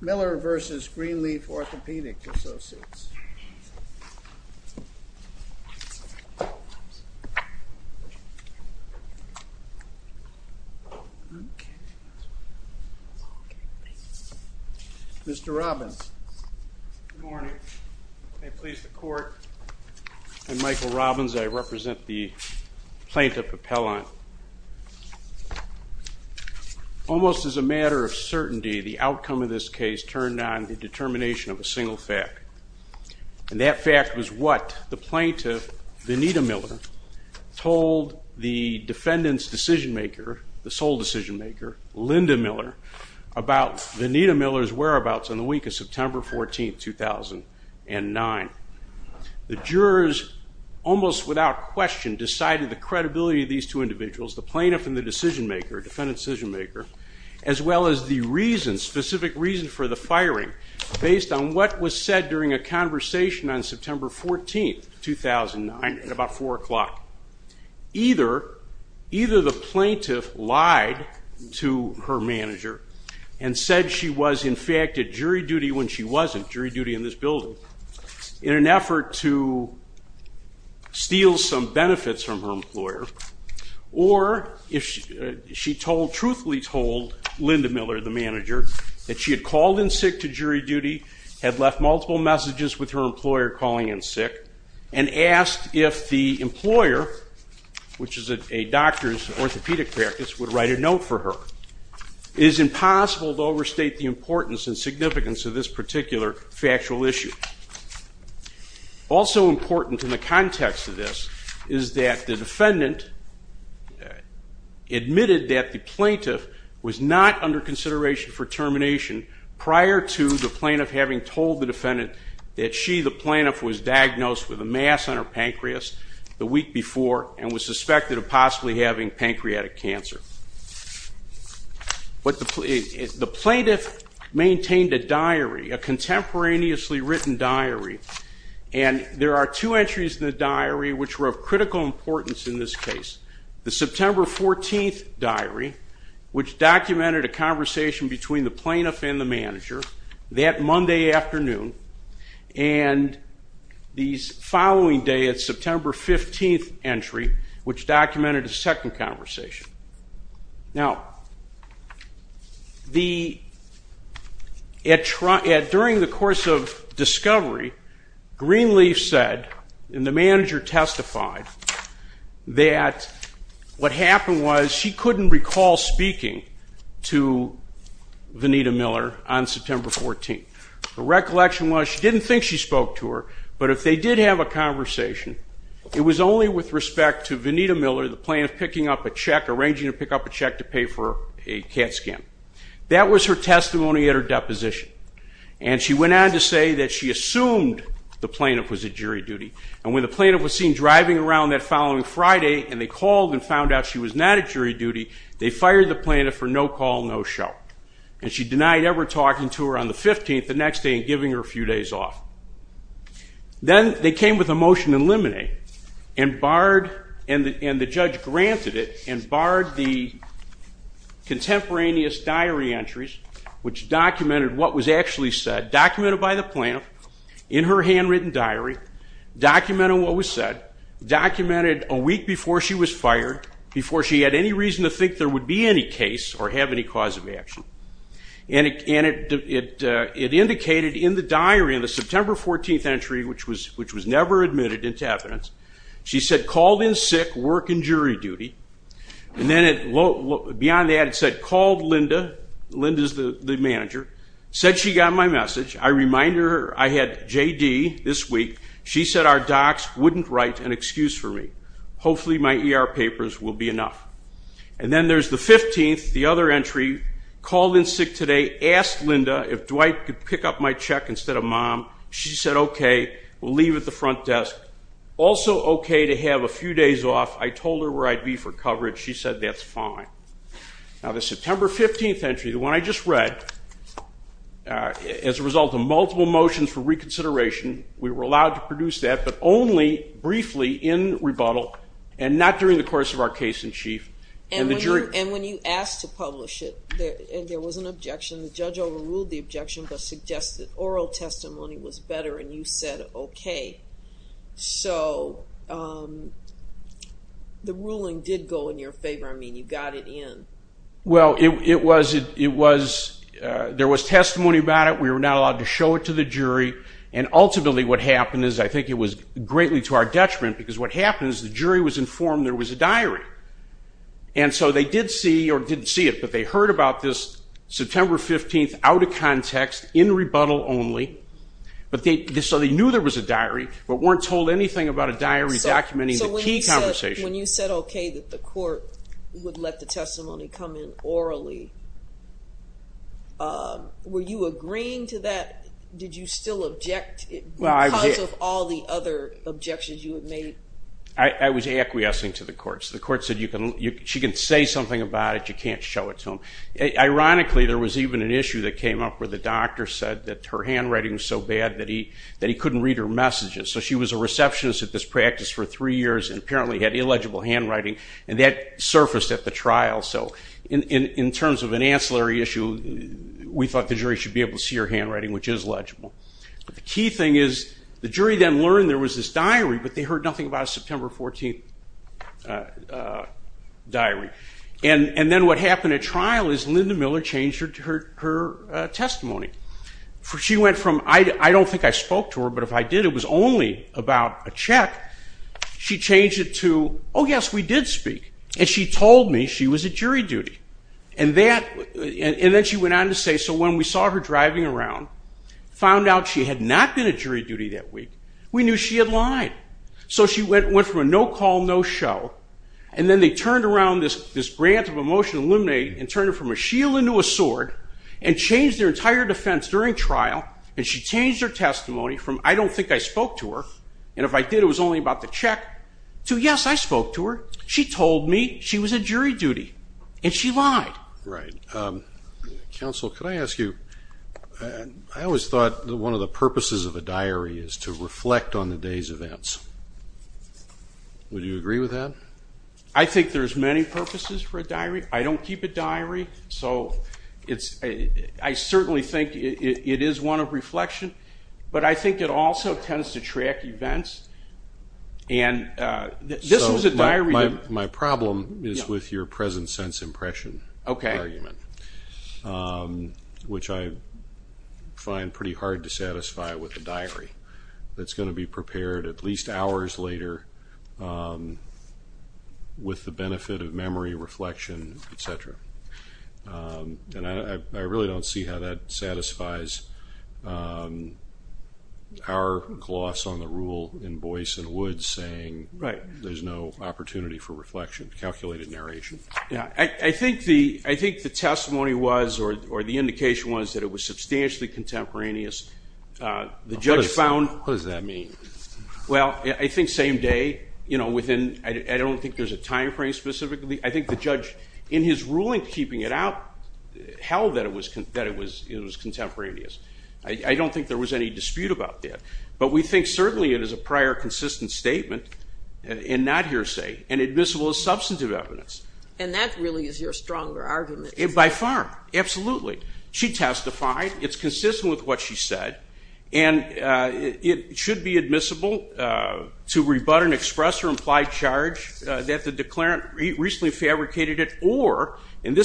Miller v. GreenLeaf Orthopedic Associates. Mr. Robbins. Good morning. May it please the court, I'm Michael Robbins. I represent the GreenLeaf Orthopedic Association. The plaintiff, Venita Miller, told the defendant's decision maker, Linda Miller, about Venita Miller's whereabouts on the week of September 14, 2009. The jurors almost without question decided the credibility of these two individuals, the plaintiff and the decision maker, defendant's decision maker, as well as the reason, specific reason for the firing based on what was said during a conversation on September 14, 2009 at about 4 o'clock. Either the plaintiff lied to her manager and said she was in fact at jury duty when she wasn't, jury duty in this building, in an effort to steal some benefits from her employer, or she truthfully told Linda Miller, the manager, that she had called in sick to jury duty, had left multiple messages with her employer calling in sick, and asked if the employer, which is a doctor's orthopedic practice, would write a note for her. It is impossible to overstate the importance and significance of this particular factual issue. Also important in the context of this is that the defendant admitted that the plaintiff was not under consideration for termination prior to the plaintiff having told the defendant that she, the plaintiff, was diagnosed with a mass on her pancreas the week before and was suspected of possibly having pancreatic cancer. The plaintiff maintained a diary, a contemporaneously written diary, and there are two entries in the diary which were of critical importance in this case. The September 14th diary, which documented a conversation between the plaintiff and the manager that Monday afternoon, and the following day, the during the course of discovery, Greenleaf said, and the manager testified, that what happened was she couldn't recall speaking to Vanita Miller on September 14th. Her recollection was she didn't think she spoke to her, but if they did have a conversation, it was only with respect to Vanita Miller, the plaintiff, picking up a check, arranging to pick up a And she went on to say that she assumed the plaintiff was at jury duty. And when the plaintiff was seen driving around that following Friday and they called and found out she was not at jury duty, they fired the plaintiff for no call, no show. And she denied ever talking to her on the 15th the next day and giving her a few days off. Then they came with a motion to eliminate and barred, and the judge granted it, and barred the contemporaneous diary entries, which documented what was actually said, documented by the plaintiff in her handwritten diary, documented what was said, documented a week before she was fired, before she had any reason to think there would be any case or have any cause of action. And it indicated in the diary in the September 14th entry, which was never admitted into evidence, she said, called in sick, work in jury duty, and then beyond that said called Linda, Linda's the manager, said she got my message. I remind her I had JD this week. She said our docs wouldn't write an excuse for me. Hopefully my ER papers will be enough. And then there's the 15th, the other entry, called in sick today, asked Linda if Dwight could pick up my check instead of mom. She said okay, we'll leave at the front desk. Also okay to have a few days off. I told her where I'd be for coverage. She said that's fine. Now the September 15th entry, the one I just read, as a result of multiple motions for reconsideration, we were allowed to produce that, but only briefly in rebuttal and not during the course of our case in chief. And when you asked to publish it, there was an objection. The judge overruled the objection, but suggested oral testimony was better and you said okay. So the ruling did go in your favor. I mean, you got it in. Well, it was, there was testimony about it. We were not allowed to show it to the jury. And ultimately what happened is, I think it was greatly to our detriment, because what happened is the jury was informed there was a diary. And so they did see, or didn't see it, but they heard about this September 15th out of context in rebuttal only. So they knew there was a diary, but weren't told anything about a diary documenting the key conversation. When you said okay that the court would let the testimony come in orally, were you agreeing to that? Did you still object because of all the other objections you had made? I was acquiescing to the court. The court said she can say something about it, you can't show it to them. Ironically, there was even an issue that came up where the doctor said that her handwriting was so bad that he couldn't read her messages. So she was a receptionist at this practice for three years and apparently had illegible handwriting and that surfaced at the trial. So in terms of an ancillary issue, we thought the jury should be able to see her handwriting, which is legible. But the key thing is, the jury then learned there was this diary, but they heard nothing about a September 14th diary. And then what happened at trial is Linda Miller changed her testimony. She went from, I don't think I spoke to her, but if I did, it was only about a check. She changed it to, oh yes, we did speak. And she told me she was at jury duty. And then she went on to say, so when we saw her driving around, found out she had not been at jury duty that week, we knew she had lied. So she went from a no call, no show, and then they turned around this grant of a motion to eliminate and turned her from a shield into a sword and changed her entire defense during trial. And she changed her testimony from, I don't think I spoke to her, and if I did, it was only about the check, to yes, I spoke to her. She told me she was at jury duty. And she lied. Right. Counsel, could I ask you, I always thought that one of the purposes of a diary is to reflect on the day's events. Would you agree with that? I think there's many purposes for a diary. I don't keep a diary, so I certainly think it is one of reflection, but I think it also tends to track events. And this was a diary... My problem is with your present sense impression argument, which I find pretty hard to satisfy with a diary that's going to be prepared at least hours later with the benefit of memory, reflection, etc. And I really don't see how that satisfies our gloss on the rule in Boyce and Woods saying there's no opportunity for reflection, calculated narration. I think the testimony was, or the indication was, that it was substantially contemporaneous. The judge found... What does that mean? Well, I think same day. I don't think there's a time frame specifically. I think the judge, in his ruling keeping it out, held that it was contemporaneous. I don't think there was any dispute about that. But we think certainly it is a prior consistent statement and not hearsay and admissible as substantive evidence. And that really is your stronger argument. By far. Absolutely. She testified. It's consistent with what she said. And it should be admissible to rebut and express her implied charge that the declarant recently fabricated it or, and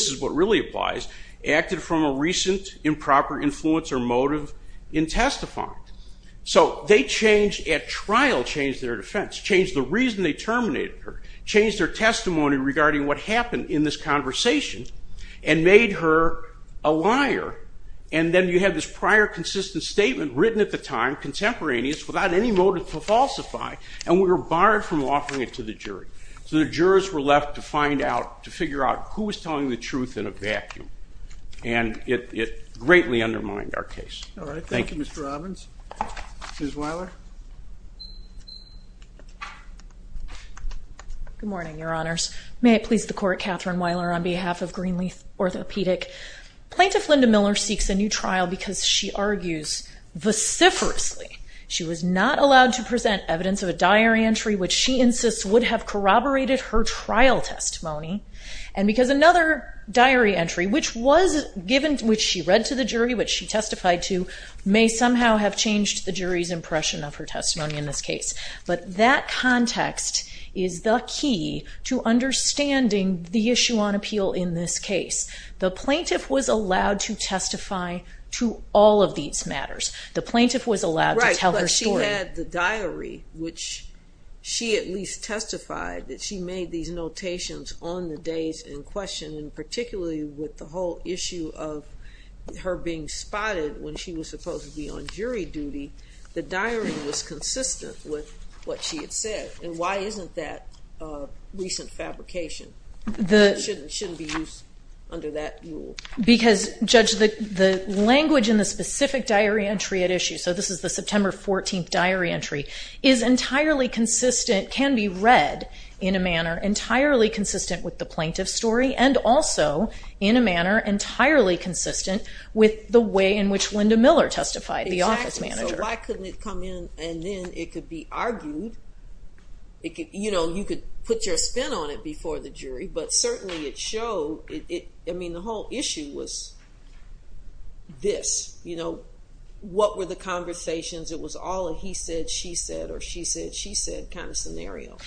falsified. So they changed at trial, changed their defense, changed the reason they terminated her, changed their testimony regarding what happened in this conversation, and made her a liar. And then you have this prior consistent statement written at the time, contemporaneous, without any motive to falsify. And we were barred from offering it to the jury. So the jurors were left to find out, to figure out who was telling the truth in a vacuum. And it greatly undermined our case. All right. Thank you, Mr. Robbins. Ms. Weiler. Good morning, Your Honors. May it please the Court, Catherine Weiler on behalf of Greenleaf Orthopedic. Plaintiff Linda Miller seeks a new trial because she argues, vociferously, she was not allowed to present evidence of a diary entry which she insists would have corroborated her trial testimony. And because another diary entry, which was given, which she read to the jury, which she testified to, may somehow have changed the jury's impression of her testimony in this case. But that context is the key to understanding the issue on appeal in this case. The plaintiff was allowed to testify to all of these matters. The plaintiff was allowed to tell her story. Right, but she had the diary, which she at least testified that she made these notations on the days in question, and particularly with the whole issue of her being spotted when she was supposed to be on jury duty, the diary was consistent with what she had said. And why isn't that recent fabrication? It shouldn't be used under that rule. Because Judge, the language in the specific diary entry at issue, so this is the September 14th diary entry, is entirely consistent, can be read in a manner entirely consistent with the plaintiff's story, and also in a manner entirely consistent with the way in which Linda Miller testified, the office manager. Exactly, so why couldn't it come in and then it could be argued, you know, you could put your spin on it before the jury, but certainly it showed, I mean, the whole issue was this, you know, what were the conversations, it was all a he said, she said, or she said, she said kind of scenario.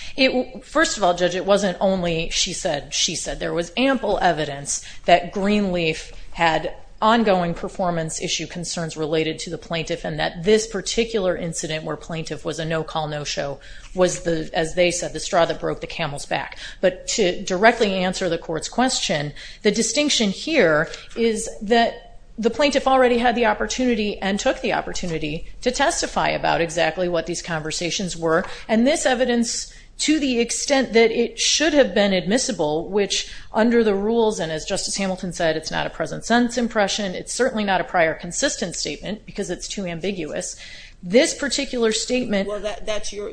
First of all, Judge, it wasn't only she said, she said. There was ample evidence that Greenleaf had ongoing performance issue concerns related to the plaintiff, and that this particular incident where plaintiff was a no-call, no-show was the, as they said, the straw that broke the camel's back. But to directly answer the court's question, the distinction here is that the plaintiff already had the opportunity and took the opportunity to testify about exactly what these conversations were, and this evidence, to the extent that it should have been admissible, which under the rules, and as Justice Hamilton said, it's not a present sense impression, it's certainly not a prior consistent statement, because it's too ambiguous. This particular statement- Well, that's your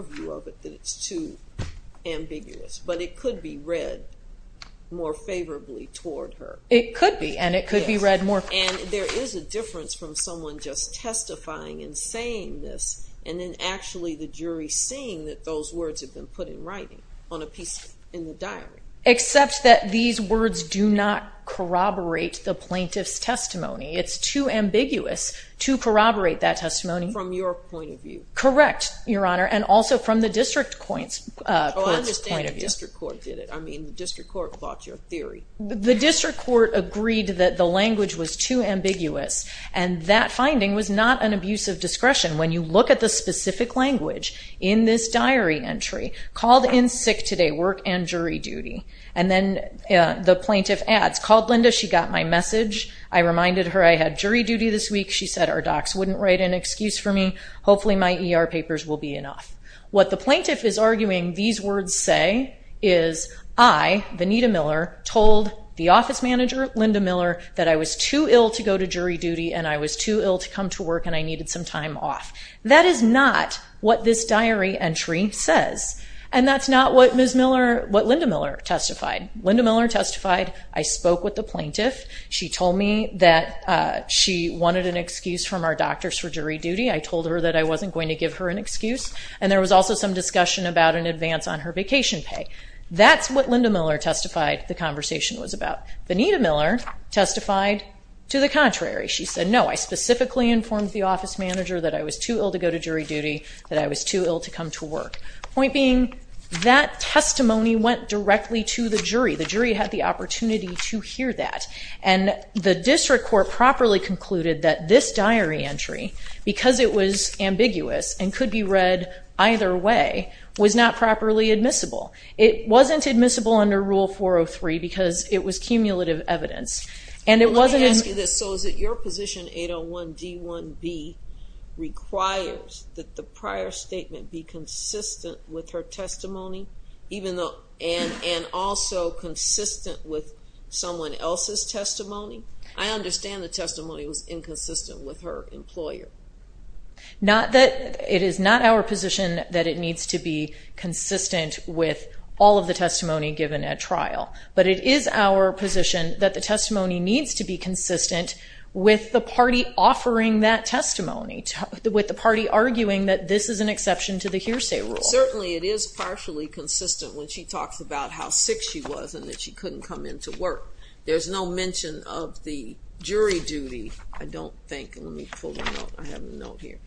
view of it, that it's too ambiguous, but it could be read more favorably toward her. It could be, and it could be read more- And there is a difference from someone just testifying and saying this, and then actually the jury seeing that those words have been put in writing on a piece in the diary. Except that these words do not corroborate the plaintiff's testimony. It's too ambiguous to corroborate that testimony. From your point of view. Correct, Your Honor, and also from the district court's point of view. Oh, I understand the district court did it. I mean, the district court fought your theory. The district court agreed that the language was too ambiguous, and that finding was not an abuse of discretion. When you look at the specific language in this diary entry, called in sick today, work and jury duty, and then the plaintiff adds, called Linda, she got my message, I reminded her I had jury duty this week, she said our docs wouldn't write an excuse for me, hopefully my ER papers will be enough. What the plaintiff is arguing these words say is, I, Vanita Miller, told the office manager, Linda Miller, that I was too ill to go to jury duty and I was too ill to come to work and I needed some time off. That is not what this diary entry says. And that's not what Ms. Miller, what Linda Miller testified. Linda Miller testified, I spoke with the plaintiff, she told me that she wanted an excuse from our doctors for jury duty, I told her that I wasn't going to give her an excuse. And there was also some discussion about an advance on her vacation pay. That's what Linda Miller testified the conversation was about. Vanita Miller testified to the contrary. She said, no, I specifically informed the office manager that I was too ill to go to jury duty, that I was too ill to come to work. Point being, that testimony went directly to the jury. The jury had the opportunity to hear that. And the district court properly concluded that this diary entry, because it was ambiguous and could be read either way, was not properly admissible. It wasn't admissible under Rule 403 because it was cumulative evidence. And it wasn't Can I ask you this? So is it your position 801 D1B requires that the prior statement be consistent with her testimony? I understand the testimony was inconsistent with her employer. Not that, it is not our position that it needs to be consistent with all of the testimony given at trial. But it is our position that the testimony needs to be consistent with the party offering that testimony, with the party arguing that this is an exception to the hearsay rule. Certainly, it is partially consistent when she talks about how sick she was and that she couldn't come into work. There's no mention of the jury duty, I don't think, let me pull a note, I have a note here.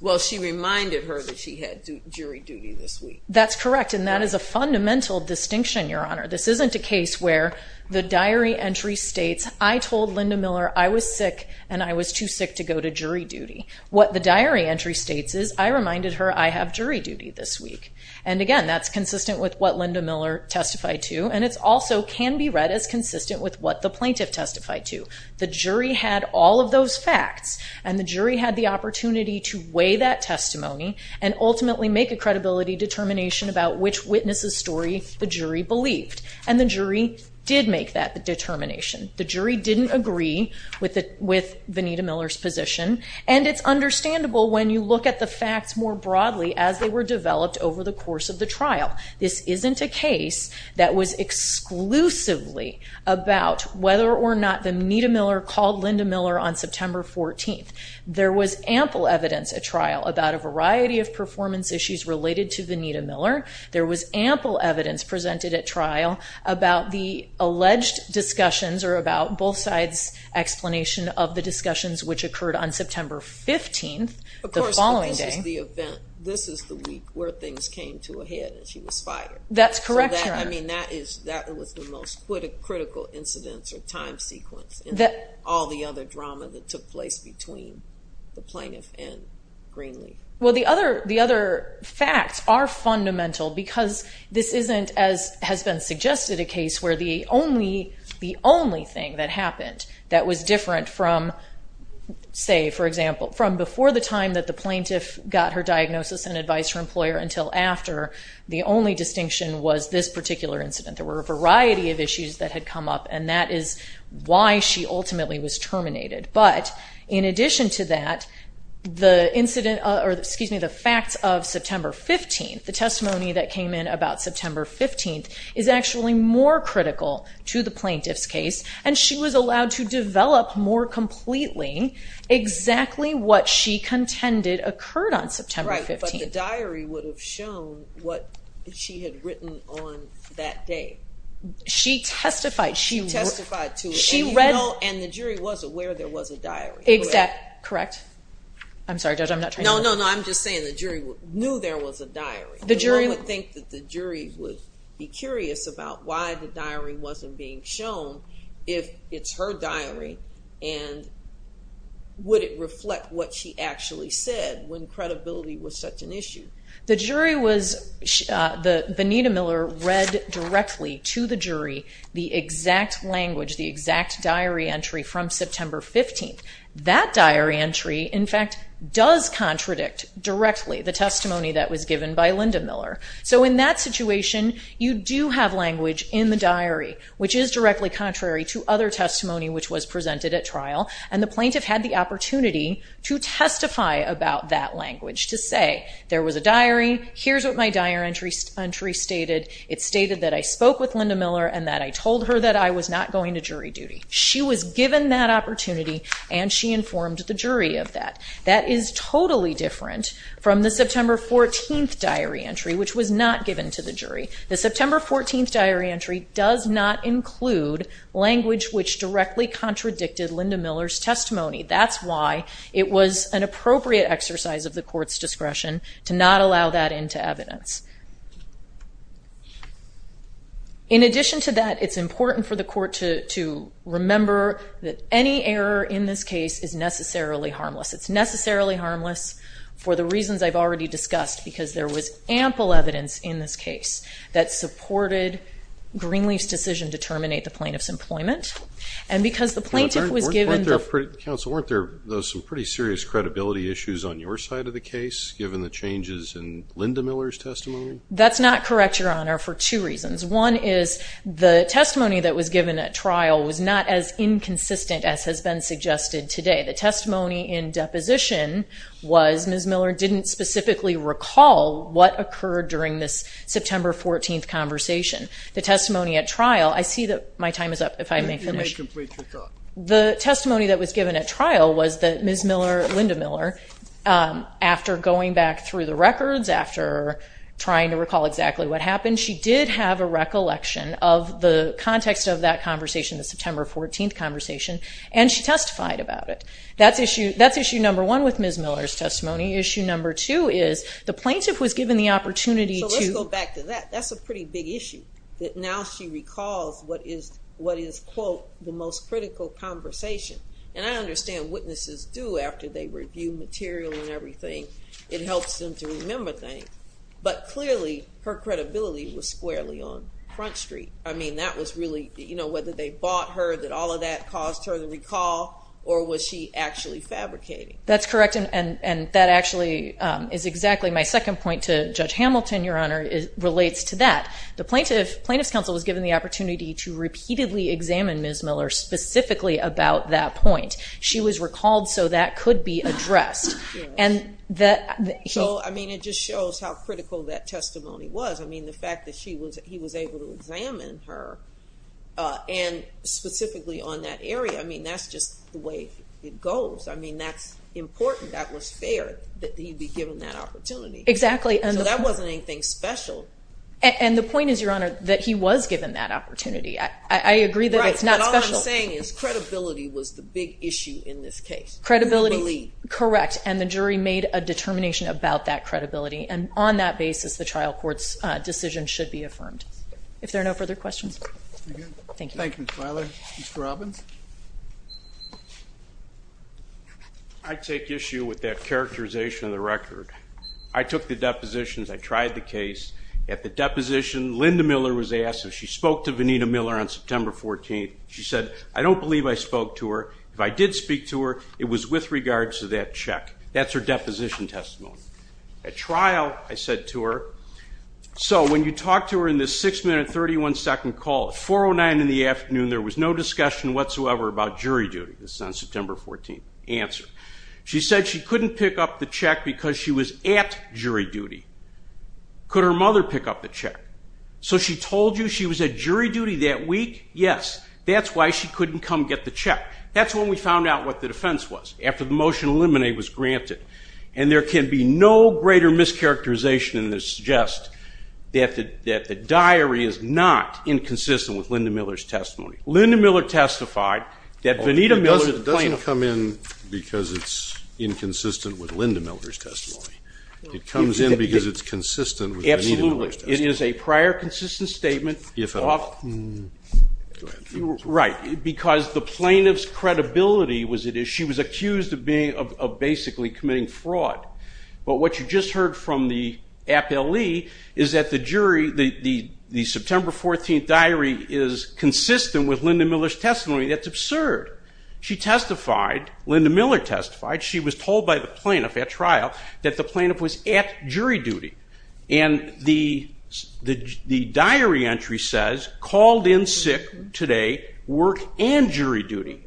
Well she reminded her that she had jury duty this week. That's correct and that is a fundamental distinction, Your Honor. This isn't a case where the diary entry states, I told Linda Miller I was sick and I was too sick to go to jury duty. What the diary entry states is, I reminded her I have jury duty this week. And again, that's consistent with what Linda Miller testified to and it also can be read as consistent with what the plaintiff testified to. The jury had all of those facts and the jury had the opportunity to weigh that testimony and ultimately make a credibility determination about which witness's story the jury believed. And the jury did make that determination. The jury didn't agree with Vanita Miller's position and it's understandable when you look at the facts more broadly as they were developed over the course of the trial. This isn't a case that was exclusively about whether or not Vanita Miller called Linda Miller on September 14th. There was ample evidence at trial about a variety of performance issues related to Vanita Miller. There was ample evidence presented at trial about the alleged discussions or about both sides' explanation of the discussions which occurred on September 15th, the following day. Of course, this is the event. This is the week where things came to a head and she was fired. That's correct, Your Honor. I mean, that was the most critical incidence or time sequence in all the other drama that took place between the plaintiff and Greenlee. Well, the other facts are fundamental because this isn't, as has been suggested, a case where the only thing that happened that was different from, say, for example, from before the time that the plaintiff got her diagnosis and advised her employer until after, the only distinction was this particular incident. There were a variety of issues that had come up and that is why she ultimately was terminated. But in addition to that, the incident, or excuse me, the facts of September 15th, the plaintiff's case, and she was allowed to develop more completely exactly what she contended occurred on September 15th. Right. But the diary would have shown what she had written on that day. She testified. She testified to it. And you know, and the jury was aware there was a diary. Correct. I'm sorry, Judge. I'm not trying to... No, no, no. I'm just saying the jury knew there was a diary. The jury... The jury would think that the jury would be curious about why the diary wasn't being shown if it's her diary and would it reflect what she actually said when credibility was such an issue? The jury was, Vanita Miller read directly to the jury the exact language, the exact diary entry from September 15th. That diary entry, in fact, does contradict directly the testimony that was given by Linda Miller. So in that situation, you do have language in the diary, which is directly contrary to other testimony which was presented at trial, and the plaintiff had the opportunity to testify about that language, to say, there was a diary, here's what my diary entry stated. It stated that I spoke with Linda Miller and that I told her that I was not going to jury duty. She was given that opportunity and she informed the jury of that. That is totally different from the September 14th diary entry, which was not given to the jury. The September 14th diary entry does not include language which directly contradicted Linda Miller's testimony. That's why it was an appropriate exercise of the court's discretion to not allow that into evidence. In addition to that, it's important for the court to remember that any error in this case is necessarily harmless. It's necessarily harmless for the reasons I've already discussed, because there was ample evidence in this case that supported Greenleaf's decision to terminate the plaintiff's employment, and because the plaintiff was given the- Counsel, weren't there some pretty serious credibility issues on your side of the case given the changes in Linda Miller's testimony? That's not correct, Your Honor, for two reasons. One is the testimony that was given at trial was not as inconsistent as has been suggested today. The testimony in deposition was Ms. Miller didn't specifically recall what occurred during this September 14th conversation. The testimony at trial, I see that my time is up, if I may finish. You may complete your thought. The testimony that was given at trial was that Ms. Miller, Linda Miller, after going back through the records, after trying to recall exactly what happened, she did have a recollection of the context of that conversation, the September 14th conversation, and she testified about it. That's issue number one with Ms. Miller's testimony. Issue number two is the plaintiff was given the opportunity to- Let's go back to that. That's a pretty big issue, that now she recalls what is, quote, the most critical conversation. And I understand witnesses do after they review material and everything. It helps them to remember things. But clearly, her credibility was squarely on front street. I mean, that was really, whether they bought her, that all of that caused her to recall, or was she actually fabricating? That's correct, and that actually is exactly my second point to Judge Hamilton, Your Honor, it relates to that. The plaintiff's counsel was given the opportunity to repeatedly examine Ms. Miller specifically about that point. She was recalled so that could be addressed. And that- So, I mean, it just shows how critical that testimony was. I mean, the fact that he was able to examine her, and specifically on that area, I mean, that's just the way it goes. I mean, that's important, that was fair, that he'd be given that opportunity. Exactly. So that wasn't anything special. And the point is, Your Honor, that he was given that opportunity. I agree that it's not special. Right, but all I'm saying is credibility was the big issue in this case. Who believed? Correct. And the jury made a determination about that credibility, and on that basis, the trial court's decision should be affirmed. If there are no further questions. Thank you. Thank you, Ms. Miller. Mr. Robbins? I take issue with that characterization of the record. I took the depositions, I tried the case. At the deposition, Linda Miller was asked if she spoke to Vanita Miller on September 14th. She said, I don't believe I spoke to her. If I did speak to her, it was with regards to that check. That's her deposition testimony. At trial, I said to her, so when you talk to her in this 6 minute, 31 second call at 409 in the afternoon, there was no discussion whatsoever about jury duty. This is on September 14th. Answer. She said she couldn't pick up the check because she was at jury duty. Could her mother pick up the check? So she told you she was at jury duty that week? Yes. That's why she couldn't come get the check. That's when we found out what the defense was, after the motion to eliminate was granted. And there can be no greater mischaracterization than to suggest that the diary is not inconsistent with Linda Miller's testimony. Linda Miller testified that Vanita Miller, the plaintiff. It doesn't come in because it's inconsistent with Linda Miller's testimony. It comes in because it's consistent with Vanita Miller's testimony. Absolutely. It is a prior consistent statement. If at all. Go ahead. Right. Because the plaintiff's credibility was at issue. She was accused of basically committing fraud. But what you just heard from the appellee is that the jury, the September 14th diary is consistent with Linda Miller's testimony. That's absurd. She testified, Linda Miller testified, she was told by the plaintiff at trial that the plaintiff was at jury duty. And the diary entry says, called in sick today, work and jury duty.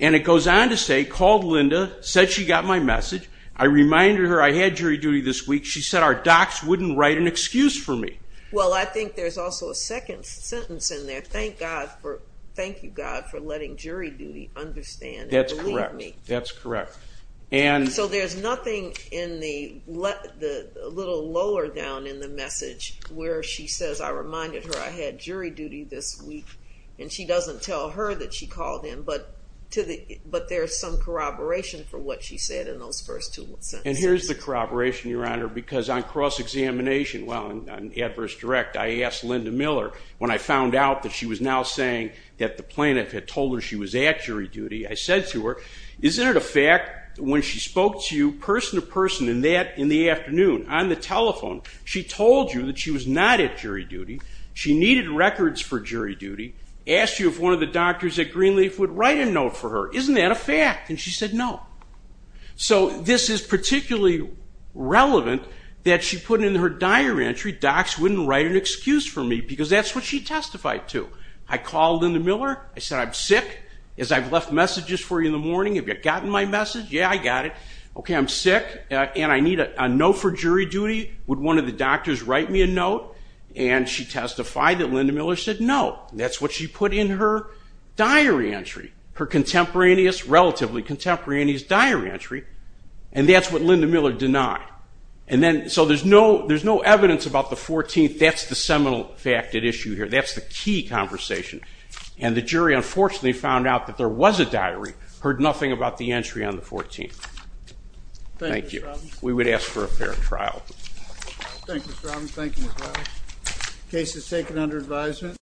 And it goes on to say, called Linda, said she got my message. I reminded her I had jury duty this week. She said our docs wouldn't write an excuse for me. Well, I think there's also a second sentence in there. Thank God for, thank you God for letting jury duty understand and believe me. That's correct. That's correct. And so there's nothing in the little lower down in the message where she says, I reminded her I had jury duty this week. And she doesn't tell her that she called in, but to the, but there's some corroboration for what she said in those first two sentences. And here's the corroboration, your honor. Because on cross-examination, well, on adverse direct, I asked Linda Miller when I found out that she was now saying that the plaintiff had told her she was at jury duty, I said to her, isn't it a fact when she spoke to you person to person in that, in the afternoon on the telephone, she told you that she was not at jury duty. She needed records for jury duty, asked you if one of the doctors at Greenleaf would write a note for her. Isn't that a fact? And she said, no. So this is particularly relevant that she put in her diary entry, docs wouldn't write an excuse for me, because that's what she testified to. I called Linda Miller, I said, I'm sick. As I've left messages for you in the morning, have you gotten my message? Yeah, I got it. Okay, I'm sick and I need a note for jury duty. Would one of the doctors write me a note? And she testified that Linda Miller said no. That's what she put in her diary entry. Her contemporaneous, relatively contemporaneous diary entry. And that's what Linda Miller denied. And then, so there's no evidence about the 14th. That's the seminal fact at issue here. That's the key conversation. And the jury unfortunately found out that there was a diary, heard nothing about the entry on the 14th. Thank you. We would ask for a fair trial. Thank you, Mr. Robinson. Thank you, Ms. Roberts. The case is taken under advisement.